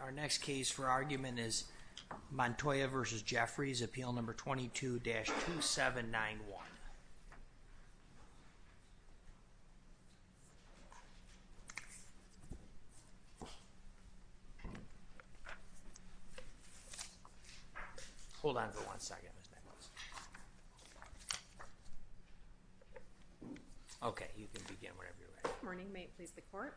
Our next case for argument is Montoya v. Jeffreys, Appeal No. 22-2791. Hold on for one second. Okay, you can begin whenever you're ready. Good morning. May it please the Court?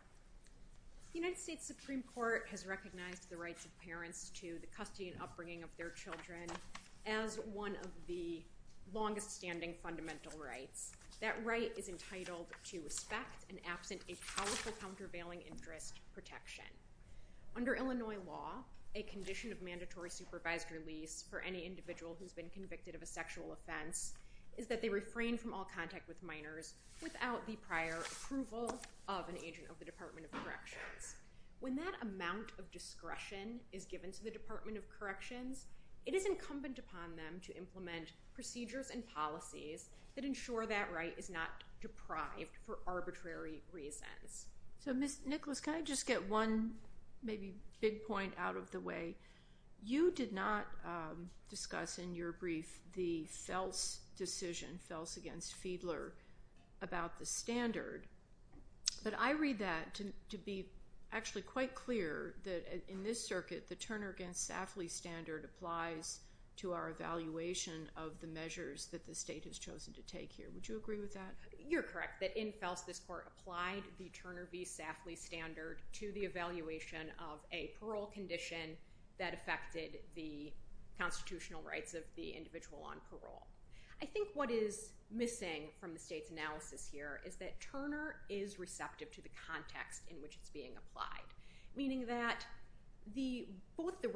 The United States Supreme Court has recognized the rights of parents to the custody and upbringing of their children as one of the longest-standing fundamental rights. That right is entitled to respect and absent a powerful countervailing interest protection. Under Illinois law, a condition of mandatory supervised release for any individual who has been convicted of a sexual offense is that they refrain from all contact with minors without the prior approval of an agent of the Department of Corrections. When that amount of discretion is given to the Department of Corrections, it is incumbent upon them to implement procedures and policies that ensure that right is not deprived for arbitrary reasons. So, Ms. Nicholas, can I just get one maybe big point out of the way? You did not discuss in your brief the Fels decision, Fels v. Fiedler, about the standard. But I read that to be actually quite clear that in this circuit, the Turner v. Safley standard applies to our evaluation of the measures that the state has chosen to take here. Would you agree with that? You're correct that in Fels, this court applied the Turner v. Safley standard to the evaluation of a parole condition that affected the constitutional rights of the individual on parole. I think what is missing from the state's analysis here is that Turner is receptive to the context in which it's being applied, meaning that both the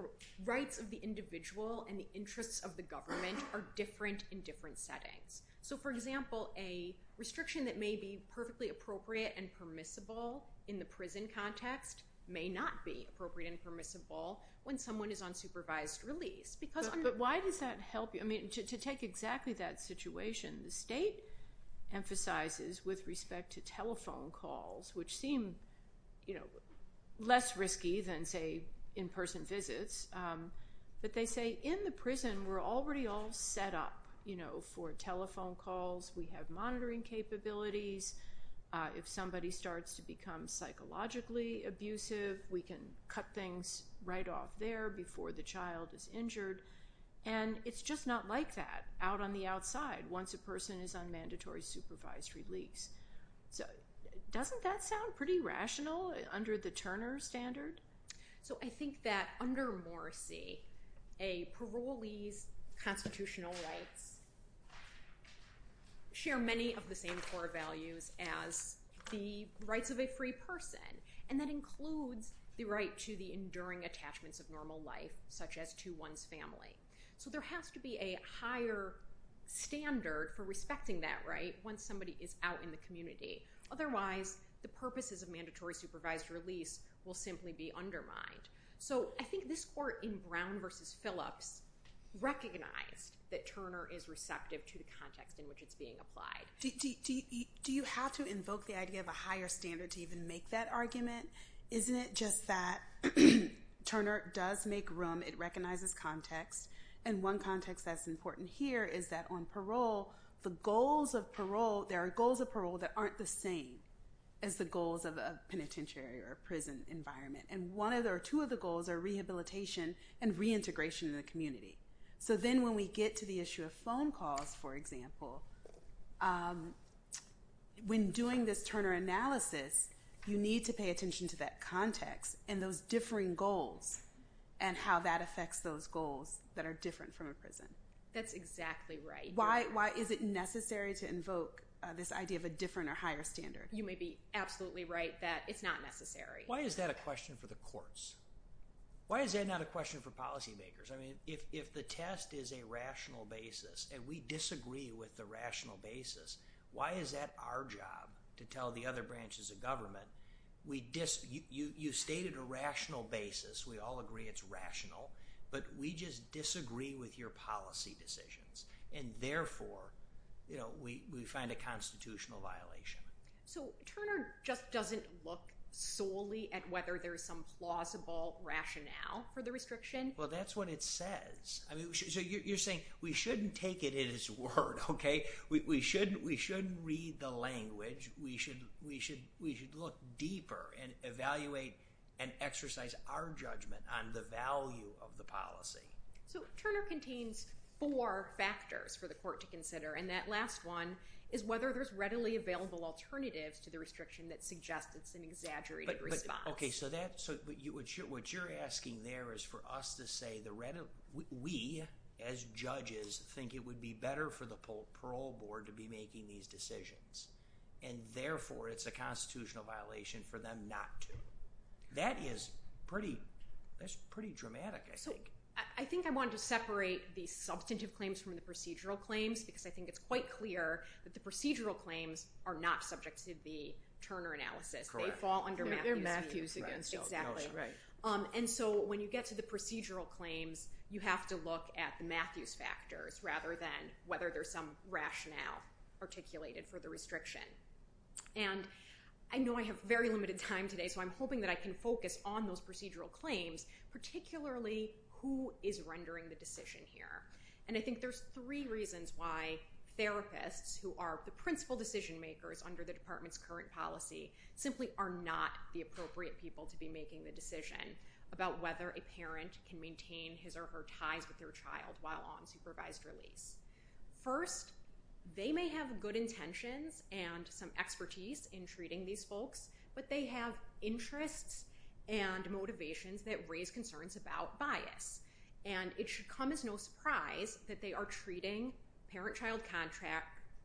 rights of the individual and the interests of the government are different in different settings. So, for example, a restriction that may be perfectly appropriate and permissible in the prison context may not be appropriate and permissible when someone is on supervised release. But why does that help you? I mean, to take exactly that situation, the state emphasizes with respect to telephone calls, which seem less risky than, say, in-person visits. But they say in the prison, we're already all set up for telephone calls. We have monitoring capabilities. If somebody starts to become psychologically abusive, we can cut things right off there before the child is injured. And it's just not like that out on the outside once a person is on mandatory supervised release. So doesn't that sound pretty rational under the Turner standard? So I think that under Morrissey, a parolee's constitutional rights share many of the same core values as the rights of a free person. And that includes the right to the enduring attachments of normal life, such as to one's family. So there has to be a higher standard for respecting that right when somebody is out in the community. Otherwise, the purposes of mandatory supervised release will simply be undermined. So I think this court in Brown v. Phillips recognized that Turner is receptive to the context in which it's being applied. Do you have to invoke the idea of a higher standard to even make that argument? Isn't it just that Turner does make room? It recognizes context. And one context that's important here is that on parole, the goals of parole, there are goals of parole that aren't the same as the goals of a penitentiary or a prison environment. And one or two of the goals are rehabilitation and reintegration in the community. So then when we get to the issue of phone calls, for example, when doing this Turner analysis, you need to pay attention to that context and those differing goals and how that affects those goals that are different from a prison. That's exactly right. Why is it necessary to invoke this idea of a different or higher standard? You may be absolutely right that it's not necessary. Why is that a question for the courts? Why is that not a question for policymakers? I mean, if the test is a rational basis and we disagree with the rational basis, why is that our job to tell the other branches of government you stated a rational basis, we all agree it's rational, but we just disagree with your policy decisions and therefore we find a constitutional violation. So Turner just doesn't look solely at whether there's some plausible rationale for the restriction? Well, that's what it says. So you're saying we shouldn't take it at its word, okay? We shouldn't read the language. We should look deeper and evaluate and exercise our judgment on the value of the policy. So Turner contains four factors for the court to consider, and that last one is whether there's readily available alternatives to the restriction that suggests it's an exaggerated response. Okay, so what you're asking there is for us to say we, as judges, think it would be better for the parole board to be making these decisions, and therefore it's a constitutional violation for them not to. That is pretty dramatic, I think. So I think I wanted to separate the substantive claims from the procedural claims because I think it's quite clear that the procedural claims are not subject to the Turner analysis. Correct. They fall under Matthew's view. They're Matthew's again. Exactly. And so when you get to the procedural claims, you have to look at Matthew's factors rather than whether there's some rationale articulated for the restriction. And I know I have very limited time today, so I'm hoping that I can focus on those procedural claims, particularly who is rendering the decision here. And I think there's three reasons why therapists, who are the principal decision makers under the department's current policy, simply are not the appropriate people to be making the decision about whether a parent can maintain his or her ties with their child while on supervised release. First, they may have good intentions and some expertise in treating these folks, but they have interests and motivations that raise concerns about bias. And it should come as no surprise that they are treating parent-child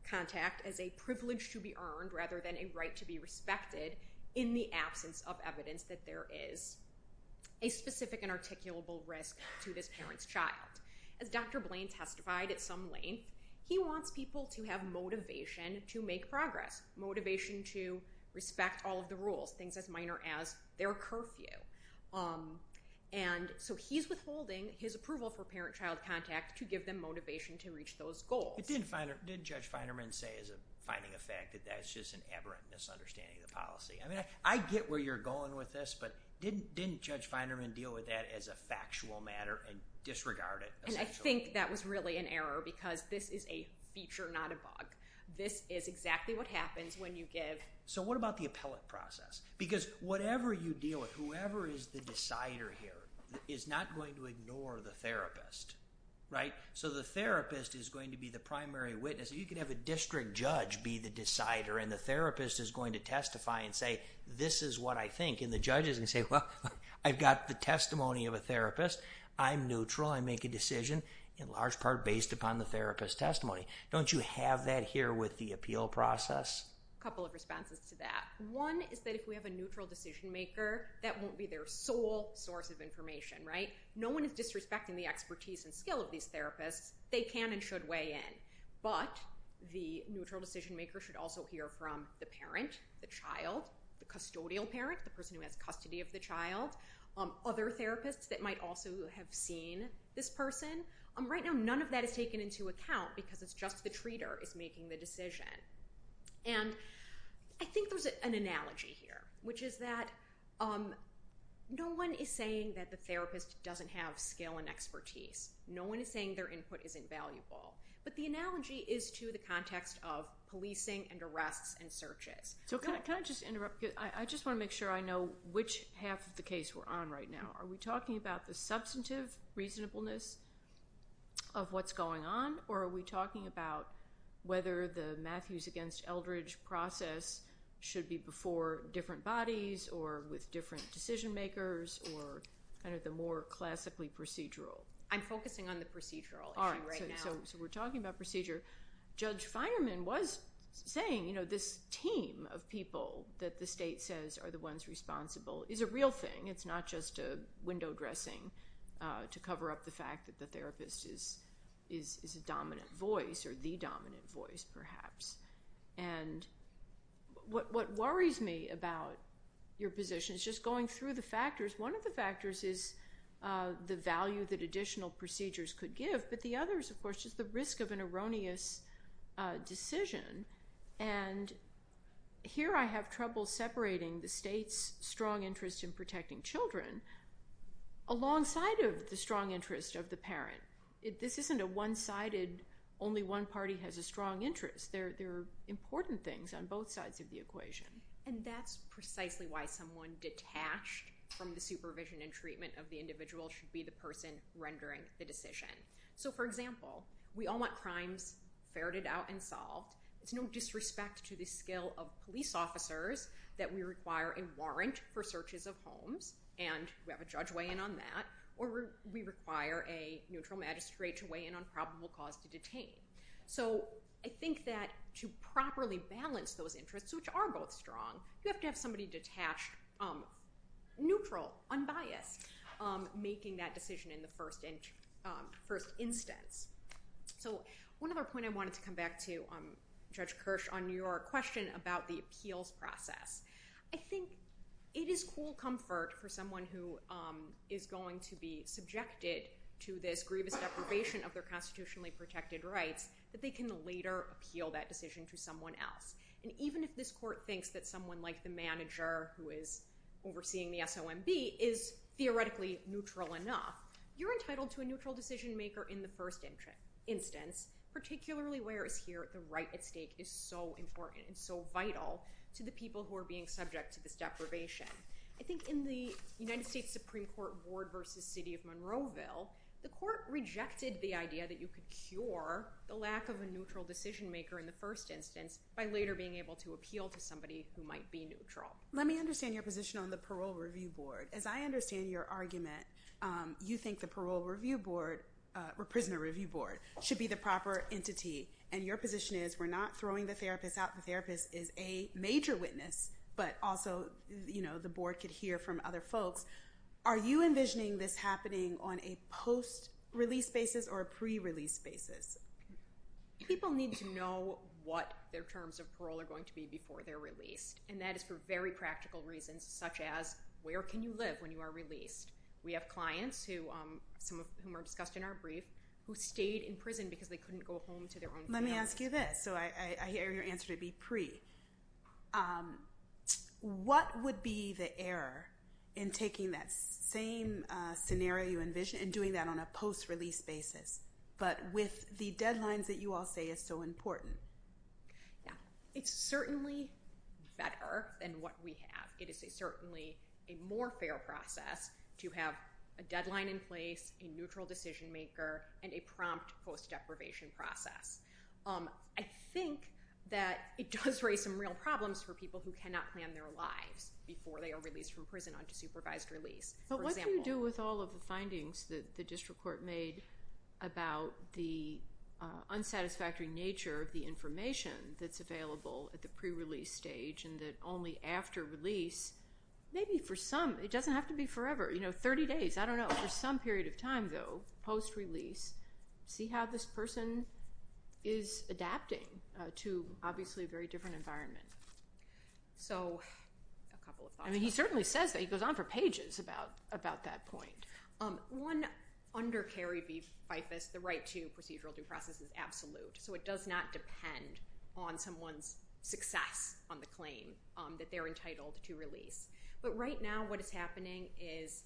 contact as a privilege to be earned rather than a right to be respected in the absence of evidence that there is a specific and articulable risk to this parent's child. As Dr. Blaine testified at some length, he wants people to have motivation to make progress, motivation to respect all of the rules, things as minor as their curfew. And so he's withholding his approval for parent-child contact to give them motivation to reach those goals. But didn't Judge Feinerman say as a finding of fact that that's just an aberrant misunderstanding of the policy? I mean, I get where you're going with this, but didn't Judge Feinerman deal with that as a factual matter and disregard it essentially? And I think that was really an error because this is a feature, not a bug. This is exactly what happens when you give... So what about the appellate process? Because whatever you deal with, whoever is the decider here is not going to ignore the therapist, right? So the therapist is going to be the primary witness. You could have a district judge be the decider, and the therapist is going to testify and say, this is what I think. And the judge is going to say, well, I've got the testimony of a therapist. I'm neutral. I make a decision in large part based upon the therapist's testimony. Don't you have that here with the appeal process? A couple of responses to that. One is that if we have a neutral decision maker, that won't be their sole source of information, right? No one is disrespecting the expertise and skill of these therapists. They can and should weigh in. But the neutral decision maker should also hear from the parent, the child, the custodial parent, the person who has custody of the child, other therapists that might also have seen this person. Right now, none of that is taken into account because it's just the treater is making the decision. And I think there's an analogy here, which is that no one is saying that the therapist doesn't have skill and expertise. No one is saying their input isn't valuable. But the analogy is to the context of policing and arrests and searches. So can I just interrupt? I just want to make sure I know which half of the case we're on right now. Are we talking about the substantive reasonableness of what's going on, or are we talking about whether the Matthews against Eldridge process should be before different bodies or with different decision makers or kind of the more classically procedural? I'm focusing on the procedural issue right now. All right. So we're talking about procedure. Judge Finerman was saying this team of people that the state says are the ones responsible is a real thing. It's not just a window dressing to cover up the fact that the therapist is a dominant voice or the dominant voice, perhaps. And what worries me about your position is just going through the factors. One of the factors is the value that additional procedures could give. But the other is, of course, just the risk of an erroneous decision. And here I have trouble separating the state's strong interest in protecting children alongside of the strong interest of the parent. This isn't a one-sided, only one party has a strong interest. There are important things on both sides of the equation. And that's precisely why someone detached from the supervision and treatment of the individual should be the person rendering the decision. So, for example, we all want crimes ferreted out and solved. It's no disrespect to the skill of police officers that we require a warrant for searches of homes. And we have a judge weigh in on that. Or we require a neutral magistrate to weigh in on probable cause to detain. So I think that to properly balance those interests, which are both strong, you have to have somebody detached, neutral, unbiased, making that decision in the first instance. So one other point I wanted to come back to, Judge Kirsch, on your question about the appeals process. I think it is cool comfort for someone who is going to be subjected to this grievous deprivation of their constitutionally protected rights that they can later appeal that decision to someone else. And even if this court thinks that someone like the manager who is overseeing the SOMB is theoretically neutral enough, you're entitled to a neutral decision maker in the first instance, particularly whereas here the right at stake is so important and so vital to the people who are being subject to this deprivation. I think in the United States Supreme Court Ward versus City of Monroeville, the court rejected the idea that you could cure the lack of a neutral decision maker in the first instance by later being able to appeal to somebody who might be neutral. Let me understand your position on the Parole Review Board. As I understand your argument, you think the Parole Review Board or Prisoner Review Board should be the proper entity. And your position is we're not throwing the therapist out. The therapist is a major witness, but also the board could hear from other folks. Are you envisioning this happening on a post-release basis or a pre-release basis? People need to know what their terms of parole are going to be before they're released. And that is for very practical reasons, such as where can you live when you are released? We have clients, some of whom are discussed in our brief, who stayed in prison because they couldn't go home to their own family. Let me ask you this, so I hear your answer to be pre. What would be the error in taking that same scenario you envision and doing that on a post-release basis, but with the deadlines that you all say is so important? It's certainly better than what we have. It is certainly a more fair process to have a deadline in place, a neutral decision maker, and a prompt post-deprivation process. I think that it does raise some real problems for people who cannot plan their lives before they are released from prison onto supervised release. But what do you do with all of the findings that the district court made about the unsatisfactory nature of the information that's available at the pre-release stage and the information that only after release, maybe for some, it doesn't have to be forever, you know, 30 days, I don't know. For some period of time, though, post-release, see how this person is adapting to obviously a very different environment. So a couple of thoughts on that. I mean, he certainly says that. He goes on for pages about that point. One, under Carrie v. FIFAS, the right to procedural due process is absolute. So it does not depend on someone's success on the claim that they're entitled to release. But right now what is happening is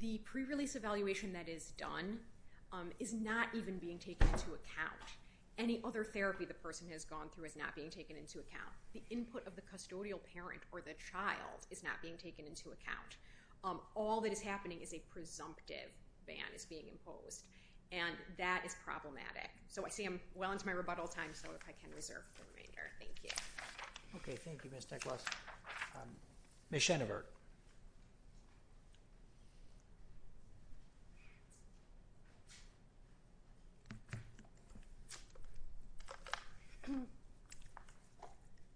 the pre-release evaluation that is done is not even being taken into account. Any other therapy the person has gone through is not being taken into account. The input of the custodial parent or the child is not being taken into account. All that is happening is a presumptive ban is being imposed, and that is problematic. So I see I'm well into my rebuttal time, so if I can reserve the remainder. Thank you. Okay. Thank you, Ms. Tekelos. Ms. Schoenevert.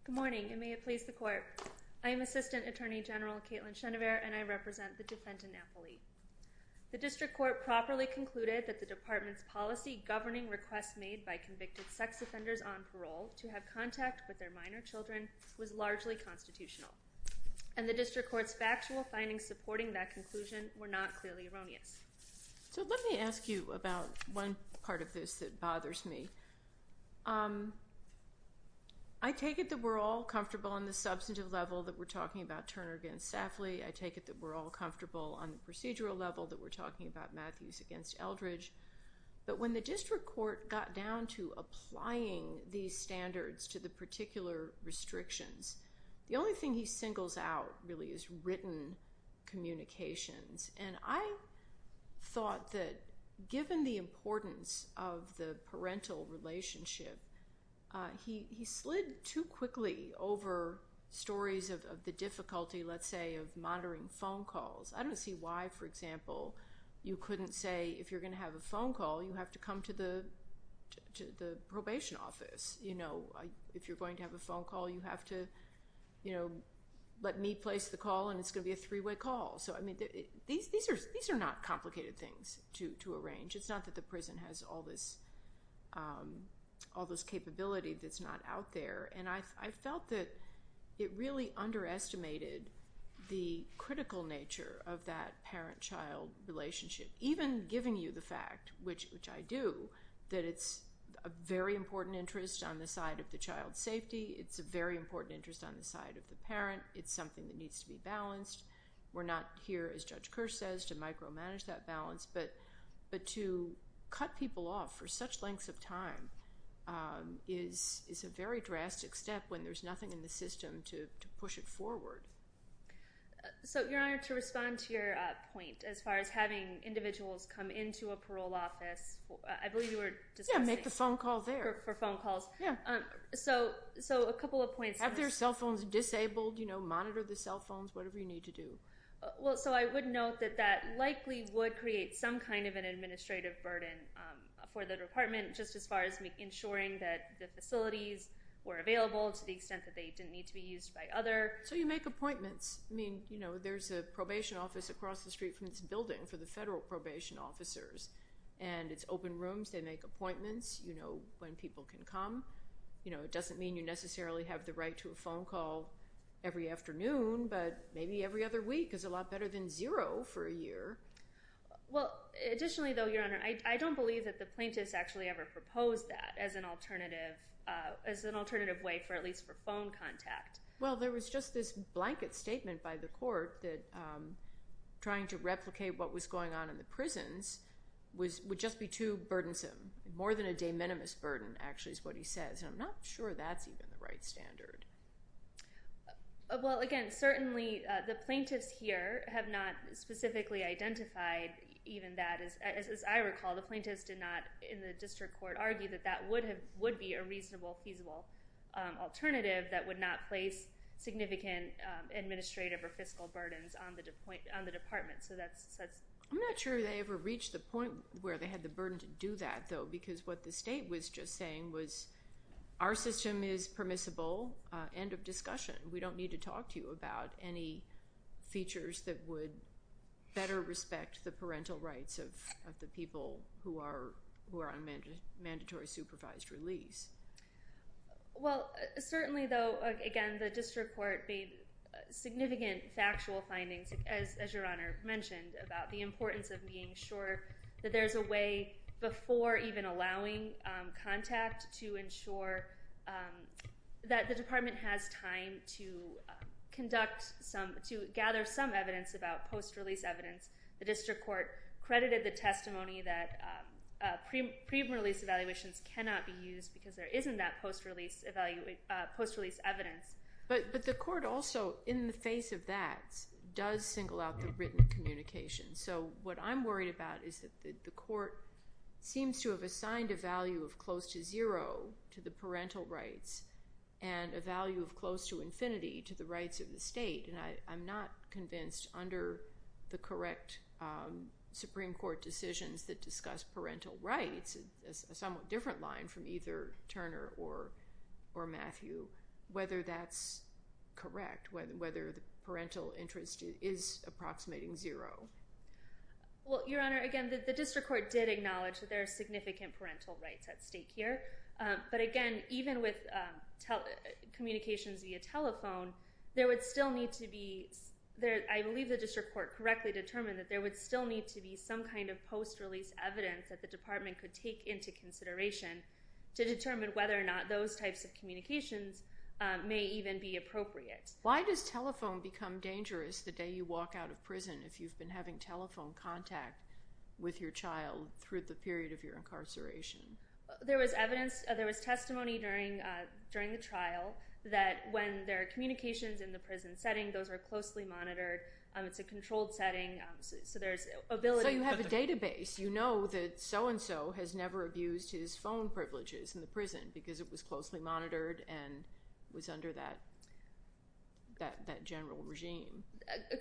Good morning, and may it please the court. I am Assistant Attorney General Kaitlyn Schoenevert, and I represent the defendant appellee. The district court properly concluded that the department's policy governing requests made by convicted sex offenders on parole to have contact with their minor children was largely constitutional, and the district court's factual findings supporting that conclusion were not clearly erroneous. So let me ask you about one part of this that bothers me. I take it that we're all comfortable on the substantive level that we're talking about Turner against Safley. I take it that we're all comfortable on the procedural level that we're talking about Matthews against Eldridge. But when the district court got down to applying these standards to the particular restrictions, the only thing he singles out really is written communications, and I thought that given the importance of the parental relationship, he slid too quickly over stories of the difficulty, let's say, of monitoring phone calls. I don't see why, for example, you couldn't say if you're going to have a phone call, you have to come to the probation office. If you're going to have a phone call, you have to let me place the call, and it's going to be a three-way call. These are not complicated things to arrange. It's not that the prison has all this capability that's not out there, and I felt that it really underestimated the critical nature of that parent-child relationship, even giving you the fact, which I do, that it's a very important interest on the side of the child's safety. It's a very important interest on the side of the parent. It's something that needs to be balanced. We're not here, as Judge Kerr says, to micromanage that balance, but to cut people off for such lengths of time is a very drastic step when there's nothing in the system to push it forward. So, Your Honor, to respond to your point as far as having individuals come into a parole office, I believe you were discussing- Yeah, make the phone call there. For phone calls. Yeah. So a couple of points. Have their cell phones disabled, you know, monitor the cell phones, whatever you need to do. Well, so I would note that that likely would create some kind of an administrative burden for the department just as far as ensuring that the facilities were available to the extent that they didn't need to be used by other- So you make appointments. I mean, you know, there's a probation office across the street from this building for the federal probation officers, and it's open rooms. They make appointments, you know, when people can come. You know, it doesn't mean you necessarily have the right to a phone call every afternoon, but maybe every other week is a lot better than zero for a year. Well, additionally, though, Your Honor, I don't believe that the plaintiffs actually ever proposed that as an alternative way for at least for phone contact. Well, there was just this blanket statement by the court that trying to replicate what was going on in the prisons would just be too burdensome, more than a de minimis burden actually is what he says, and I'm not sure that's even the right standard. Well, again, certainly the plaintiffs here have not specifically identified even that. As I recall, the plaintiffs did not in the district court argue that that would be a reasonable, feasible alternative that would not place significant administrative or fiscal burdens on the department, so that's- I'm not sure they ever reached the point where they had the burden to do that, though, because what the state was just saying was our system is permissible, end of discussion. We don't need to talk to you about any features that would better respect the parental rights of the people who are on mandatory supervised release. Well, certainly, though, again, the district court made significant factual findings, as Your Honor mentioned, about the importance of being sure that there's a way before even allowing contact to ensure that the department has time to gather some evidence about post-release evidence. The district court credited the testimony that pre-release evaluations cannot be used because there isn't that post-release evidence. But the court also, in the face of that, does single out the written communication, so what I'm worried about is that the court seems to have assigned a value of close to zero to the parental rights and a value of close to infinity to the rights of the state, and I'm not convinced under the correct Supreme Court decisions that discuss parental rights, it's a somewhat different line from either Turner or Matthew, whether that's correct, whether the parental interest is approximating zero. Well, Your Honor, again, the district court did acknowledge that there are significant parental rights at stake here, but again, even with communications via telephone, there would still need to be, I believe the district court correctly determined that there would still need to be some kind of post-release evidence that the department could take into consideration to determine whether or not those types of communications may even be appropriate. Why does telephone become dangerous the day you walk out of prison if you've been having telephone contact with your child through the period of your incarceration? There was testimony during the trial that when there are communications in the prison setting, those are closely monitored, it's a controlled setting, so there's ability to... So you have a database. You know that so-and-so has never abused his phone privileges in the prison because it was closely monitored and was under that general regime.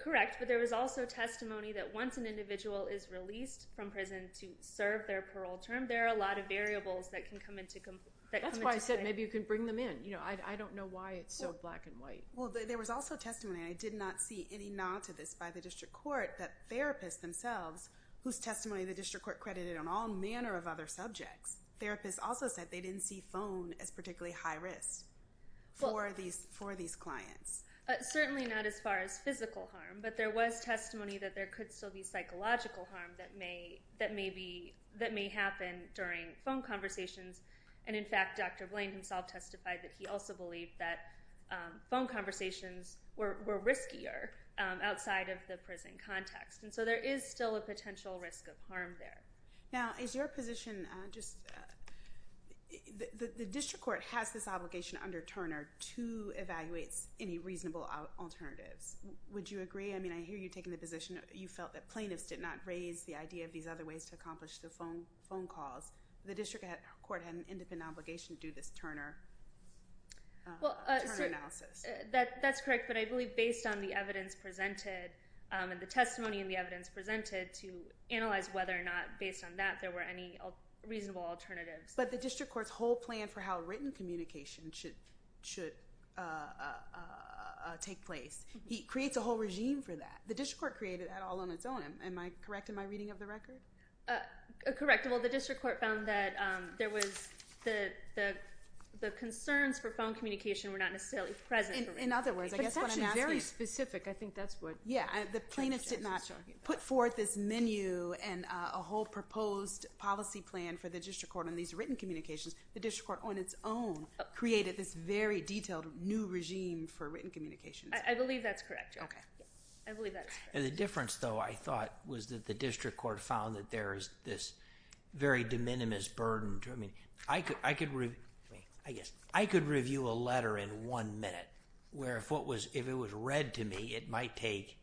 Correct, but there was also testimony that once an individual is released from prison to serve their parole term, there are a lot of variables that can come into play. That's why I said maybe you can bring them in. I don't know why it's so black and white. Well, there was also testimony, and I did not see any nod to this by the district court, that therapists themselves, whose testimony the district court credited on all manner of other subjects, therapists also said they didn't see phone as particularly high risk for these clients. Certainly not as far as physical harm, but there was testimony that there could still be psychological harm that may happen during phone conversations, and in fact Dr. Blaine himself testified that he also believed that phone conversations were riskier outside of the prison context, and so there is still a potential risk of harm there. Now, is your position just... The district court has this obligation under Turner to evaluate any reasonable alternatives. Would you agree? I mean, I hear you taking the position you felt that plaintiffs did not raise the idea of these other ways to accomplish the phone calls. The district court had an independent obligation to do this Turner analysis. That's correct, but I believe based on the evidence presented and the testimony and the evidence presented to analyze whether or not based on that there were any reasonable alternatives. But the district court's whole plan for how written communication should take place, he creates a whole regime for that. The district court created that all on its own. Am I correct in my reading of the record? Correct. Well, the district court found that there was the concerns for phone communication were not necessarily present. In other words, I guess what I'm asking... But it's actually very specific. I think that's what... Yeah, the plaintiffs did not put forth this menu and a whole proposed policy plan for the district court on these written communications. The district court on its own created this very detailed new regime for written communications. I believe that's correct. Okay. I believe that's correct. The difference, though, I thought was that the district court found that there is this very de minimis burden. I mean, I could review a letter in one minute where if it was read to me, it might take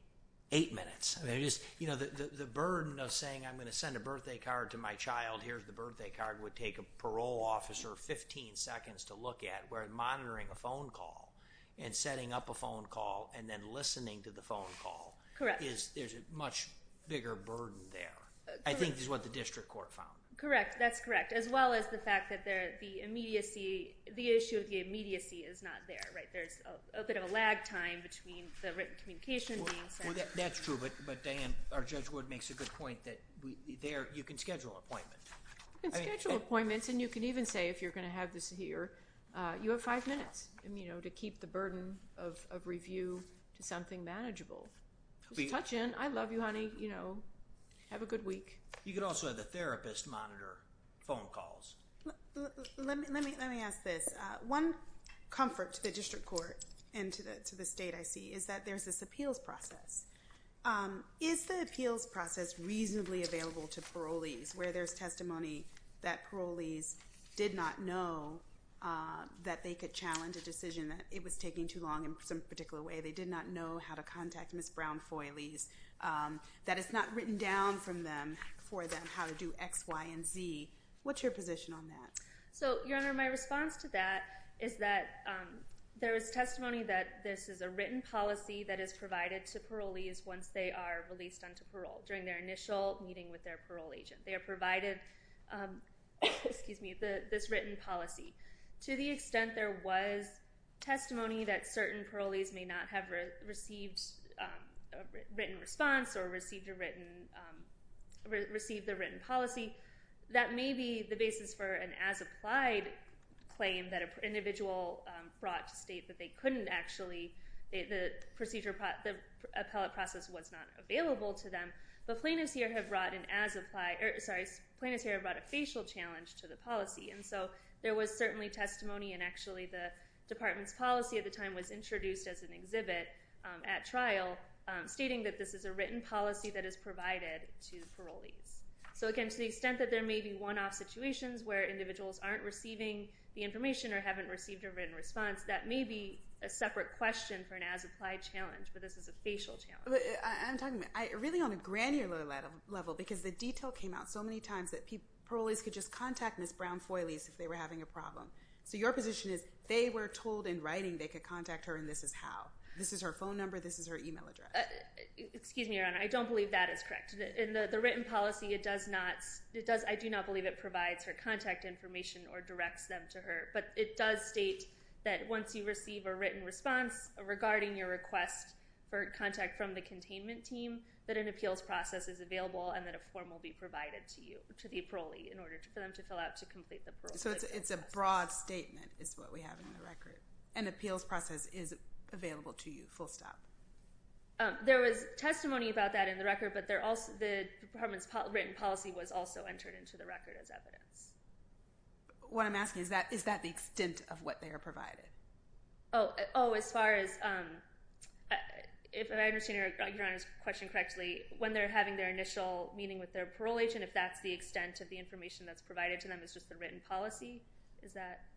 eight minutes. I mean, the burden of saying I'm going to send a birthday card to my child, here's the birthday card, would take a parole officer 15 seconds to look at where monitoring a phone call and setting up a phone call and then listening to the phone call... Correct. There's a much bigger burden there. I think is what the district court found. Correct. That's correct. As well as the fact that the issue of the immediacy is not there. There's a bit of a lag time between the written communication being sent... Well, that's true. But Diane, our Judge Wood makes a good point that you can schedule appointments. You can schedule appointments and you can even say if you're going to have this here, you have five minutes to keep the burden of review to something manageable. Just touch in. I love you, honey. Have a good week. You could also have the therapist monitor phone calls. Let me ask this. One comfort to the district court and to the state, I see, is that there's this appeals process. Is the appeals process reasonably available to parolees where there's testimony that parolees did not know that they could challenge a decision, that it was taking too long in some particular way, they did not know how to contact Ms. Brown-Foylees, that it's not written down for them how to do X, Y, and Z? What's your position on that? Your Honor, my response to that is that there is testimony that this is a written policy that is provided to parolees once they are released onto parole during their initial meeting with their parole agent. They are provided this written policy. To the extent there was testimony that certain parolees may not have received a written response or received the written policy, that may be the basis for an as-applied claim that an individual brought to state that they couldn't actually, the appellate process was not available to them. But plaintiffs here have brought a facial challenge to the policy, and so there was certainly testimony, and actually the department's policy at the time was introduced as an exhibit at trial, stating that this is a written policy that is provided to parolees. So again, to the extent that there may be one-off situations where individuals aren't receiving the information or haven't received a written response, that may be a separate question for an as-applied challenge, but this is a facial challenge. I'm talking really on a granular level because the detail came out so many times that parolees could just contact Ms. Brown-Foyles if they were having a problem. So your position is they were told in writing they could contact her, and this is how. This is her phone number. This is her email address. Excuse me, Your Honor. I don't believe that is correct. In the written policy, I do not believe it provides her contact information or directs them to her, but it does state that once you receive a written response regarding your request for contact from the containment team, that an appeals process is available and that a form will be provided to you, to the parolee, in order for them to fill out to complete the parole process. So it's a broad statement is what we have in the record. An appeals process is available to you, full stop. There was testimony about that in the record, but the department's written policy was also entered into the record as evidence. What I'm asking is, is that the extent of what they are provided? Oh, as far as—if I understand Your Honor's question correctly, when they're having their initial meeting with their parole agent, if that's the extent of the information that's provided to them, it's just the written policy?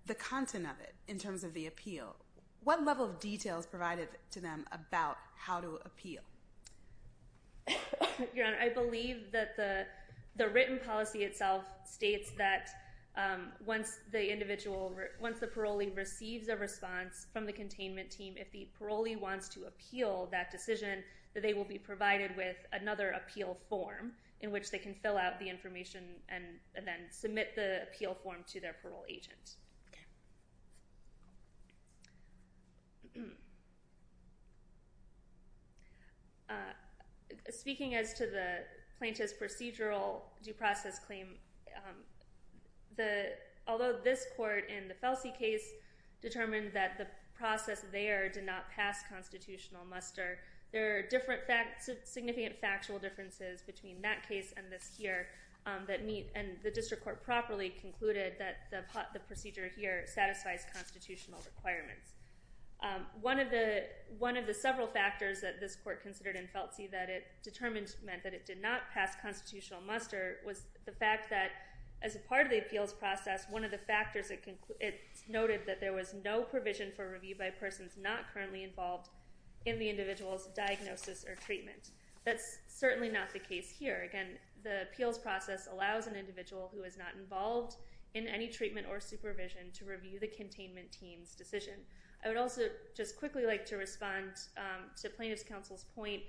The content of it, in terms of the appeal. What level of detail is provided to them about how to appeal? Your Honor, I believe that the written policy itself states that once the individual— once they receive a written response from the containment team, if the parolee wants to appeal that decision, that they will be provided with another appeal form in which they can fill out the information and then submit the appeal form to their parole agent. Speaking as to the plaintiff's procedural due process claim, although this court in the Feltsi case determined that the process there did not pass constitutional muster, there are significant factual differences between that case and this here and the district court properly concluded that the procedure here satisfies constitutional requirements. One of the several factors that this court considered in Feltsi that it determined meant that it did not pass constitutional muster was the fact that as a part of the appeals process, one of the factors it noted that there was no provision for review by persons not currently involved in the individual's diagnosis or treatment. That's certainly not the case here. Again, the appeals process allows an individual who is not involved in any treatment or supervision to review the containment team's decision. I would also just quickly like to respond to plaintiff's counsel's point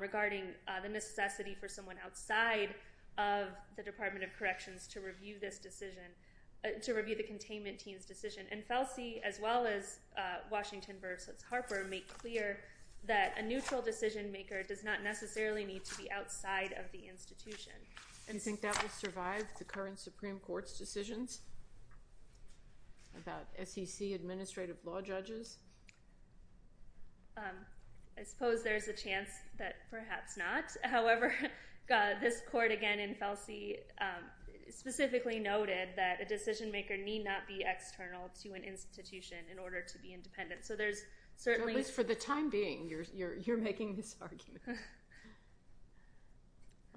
regarding the necessity for someone outside of the Department of Corrections to review this decision, to review the containment team's decision. And Feltsi, as well as Washington v. Harper, make clear that a neutral decision maker does not necessarily need to be outside of the institution. Do you think that will survive the current Supreme Court's decisions about SEC administrative law judges? I suppose there's a chance that perhaps not. However, this court, again in Feltsi, specifically noted that a decision maker need not be external to an institution in order to be independent. So there's certainly— At least for the time being, you're making this argument.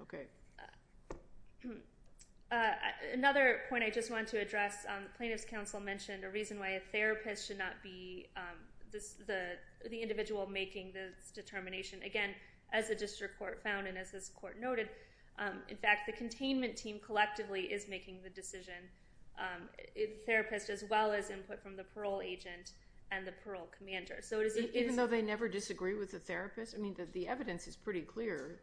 Okay. Another point I just want to address, plaintiff's counsel mentioned a reason why a therapist should not be the individual making this determination. Again, as the district court found and as this court noted, in fact the containment team collectively is making the decision, the therapist as well as input from the parole agent and the parole commander. Even though they never disagree with the therapist? I mean, the evidence is pretty clear.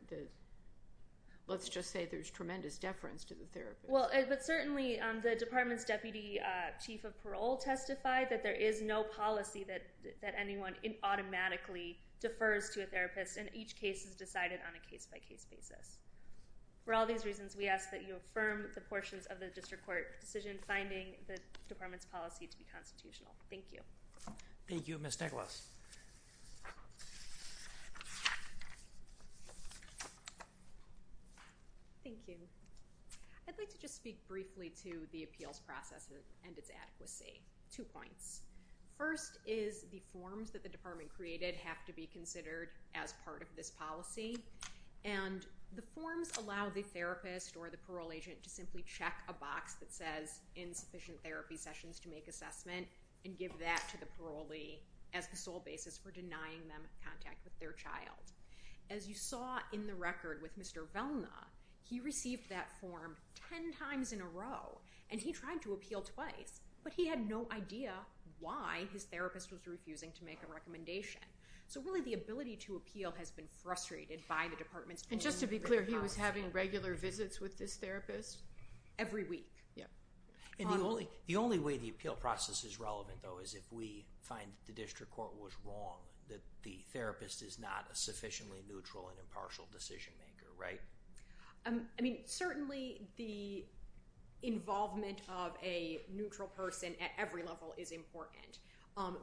Let's just say there's tremendous deference to the therapist. Well, but certainly the department's deputy chief of parole testified that there is no policy that anyone automatically defers to a therapist, and each case is decided on a case-by-case basis. For all these reasons, we ask that you affirm the portions of the district court decision finding the department's policy to be constitutional. Thank you. Thank you. Ms. Nicholas. Thank you. I'd like to just speak briefly to the appeals process and its adequacy. Two points. First is the forms that the department created have to be considered as part of this policy, and the forms allow the therapist or the parole agent to simply check a box that says insufficient therapy sessions to make assessment and give that to the parolee as the sole basis for denying them contact with their child. As you saw in the record with Mr. Velna, he received that form ten times in a row, and he tried to appeal twice, but he had no idea why his therapist was refusing to make a recommendation. So really the ability to appeal has been frustrated by the department's policy. And just to be clear, he was having regular visits with this therapist? Every week. Yep. And the only way the appeal process is relevant, though, is if we find that the district court was wrong, that the therapist is not a sufficiently neutral and impartial decision maker, right? I mean, certainly the involvement of a neutral person at every level is important,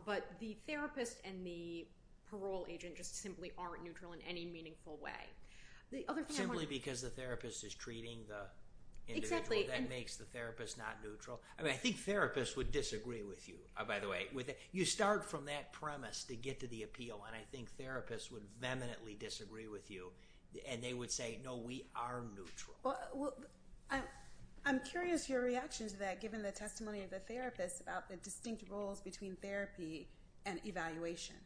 but the therapist and the parole agent just simply aren't neutral in any meaningful way. Simply because the therapist is treating the individual. Exactly. That makes the therapist not neutral. I mean, I think therapists would disagree with you, by the way. You start from that premise to get to the appeal, and I think therapists would vehemently disagree with you, and they would say, no, we are neutral. Well, I'm curious your reaction to that, given the testimony of the therapist about the distinct roles between therapy and evaluation.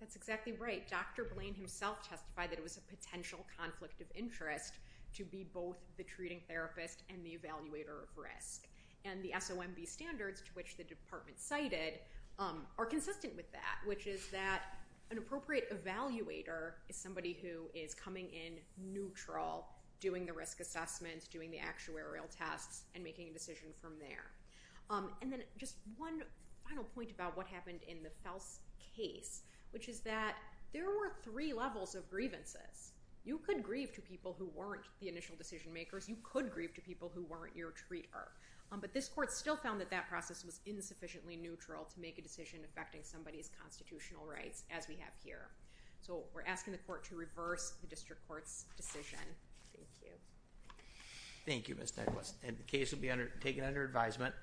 That's exactly right. Dr. Blain himself testified that it was a potential conflict of interest to be both the treating therapist and the evaluator of risk. And the SOMB standards to which the department cited are consistent with that, which is that an appropriate evaluator is somebody who is coming in neutral, doing the risk assessments, doing the actuarial tests, and making a decision from there. And then just one final point about what happened in the Fels case, which is that there were three levels of grievances. You could grieve to people who weren't the initial decision makers. You could grieve to people who weren't your treater. But this court still found that that process was insufficiently neutral to make a decision affecting somebody's constitutional rights, as we have here. So we're asking the court to reverse the district court's decision. Thank you. Thank you, Ms. Douglas. And the case will be taken under advisement.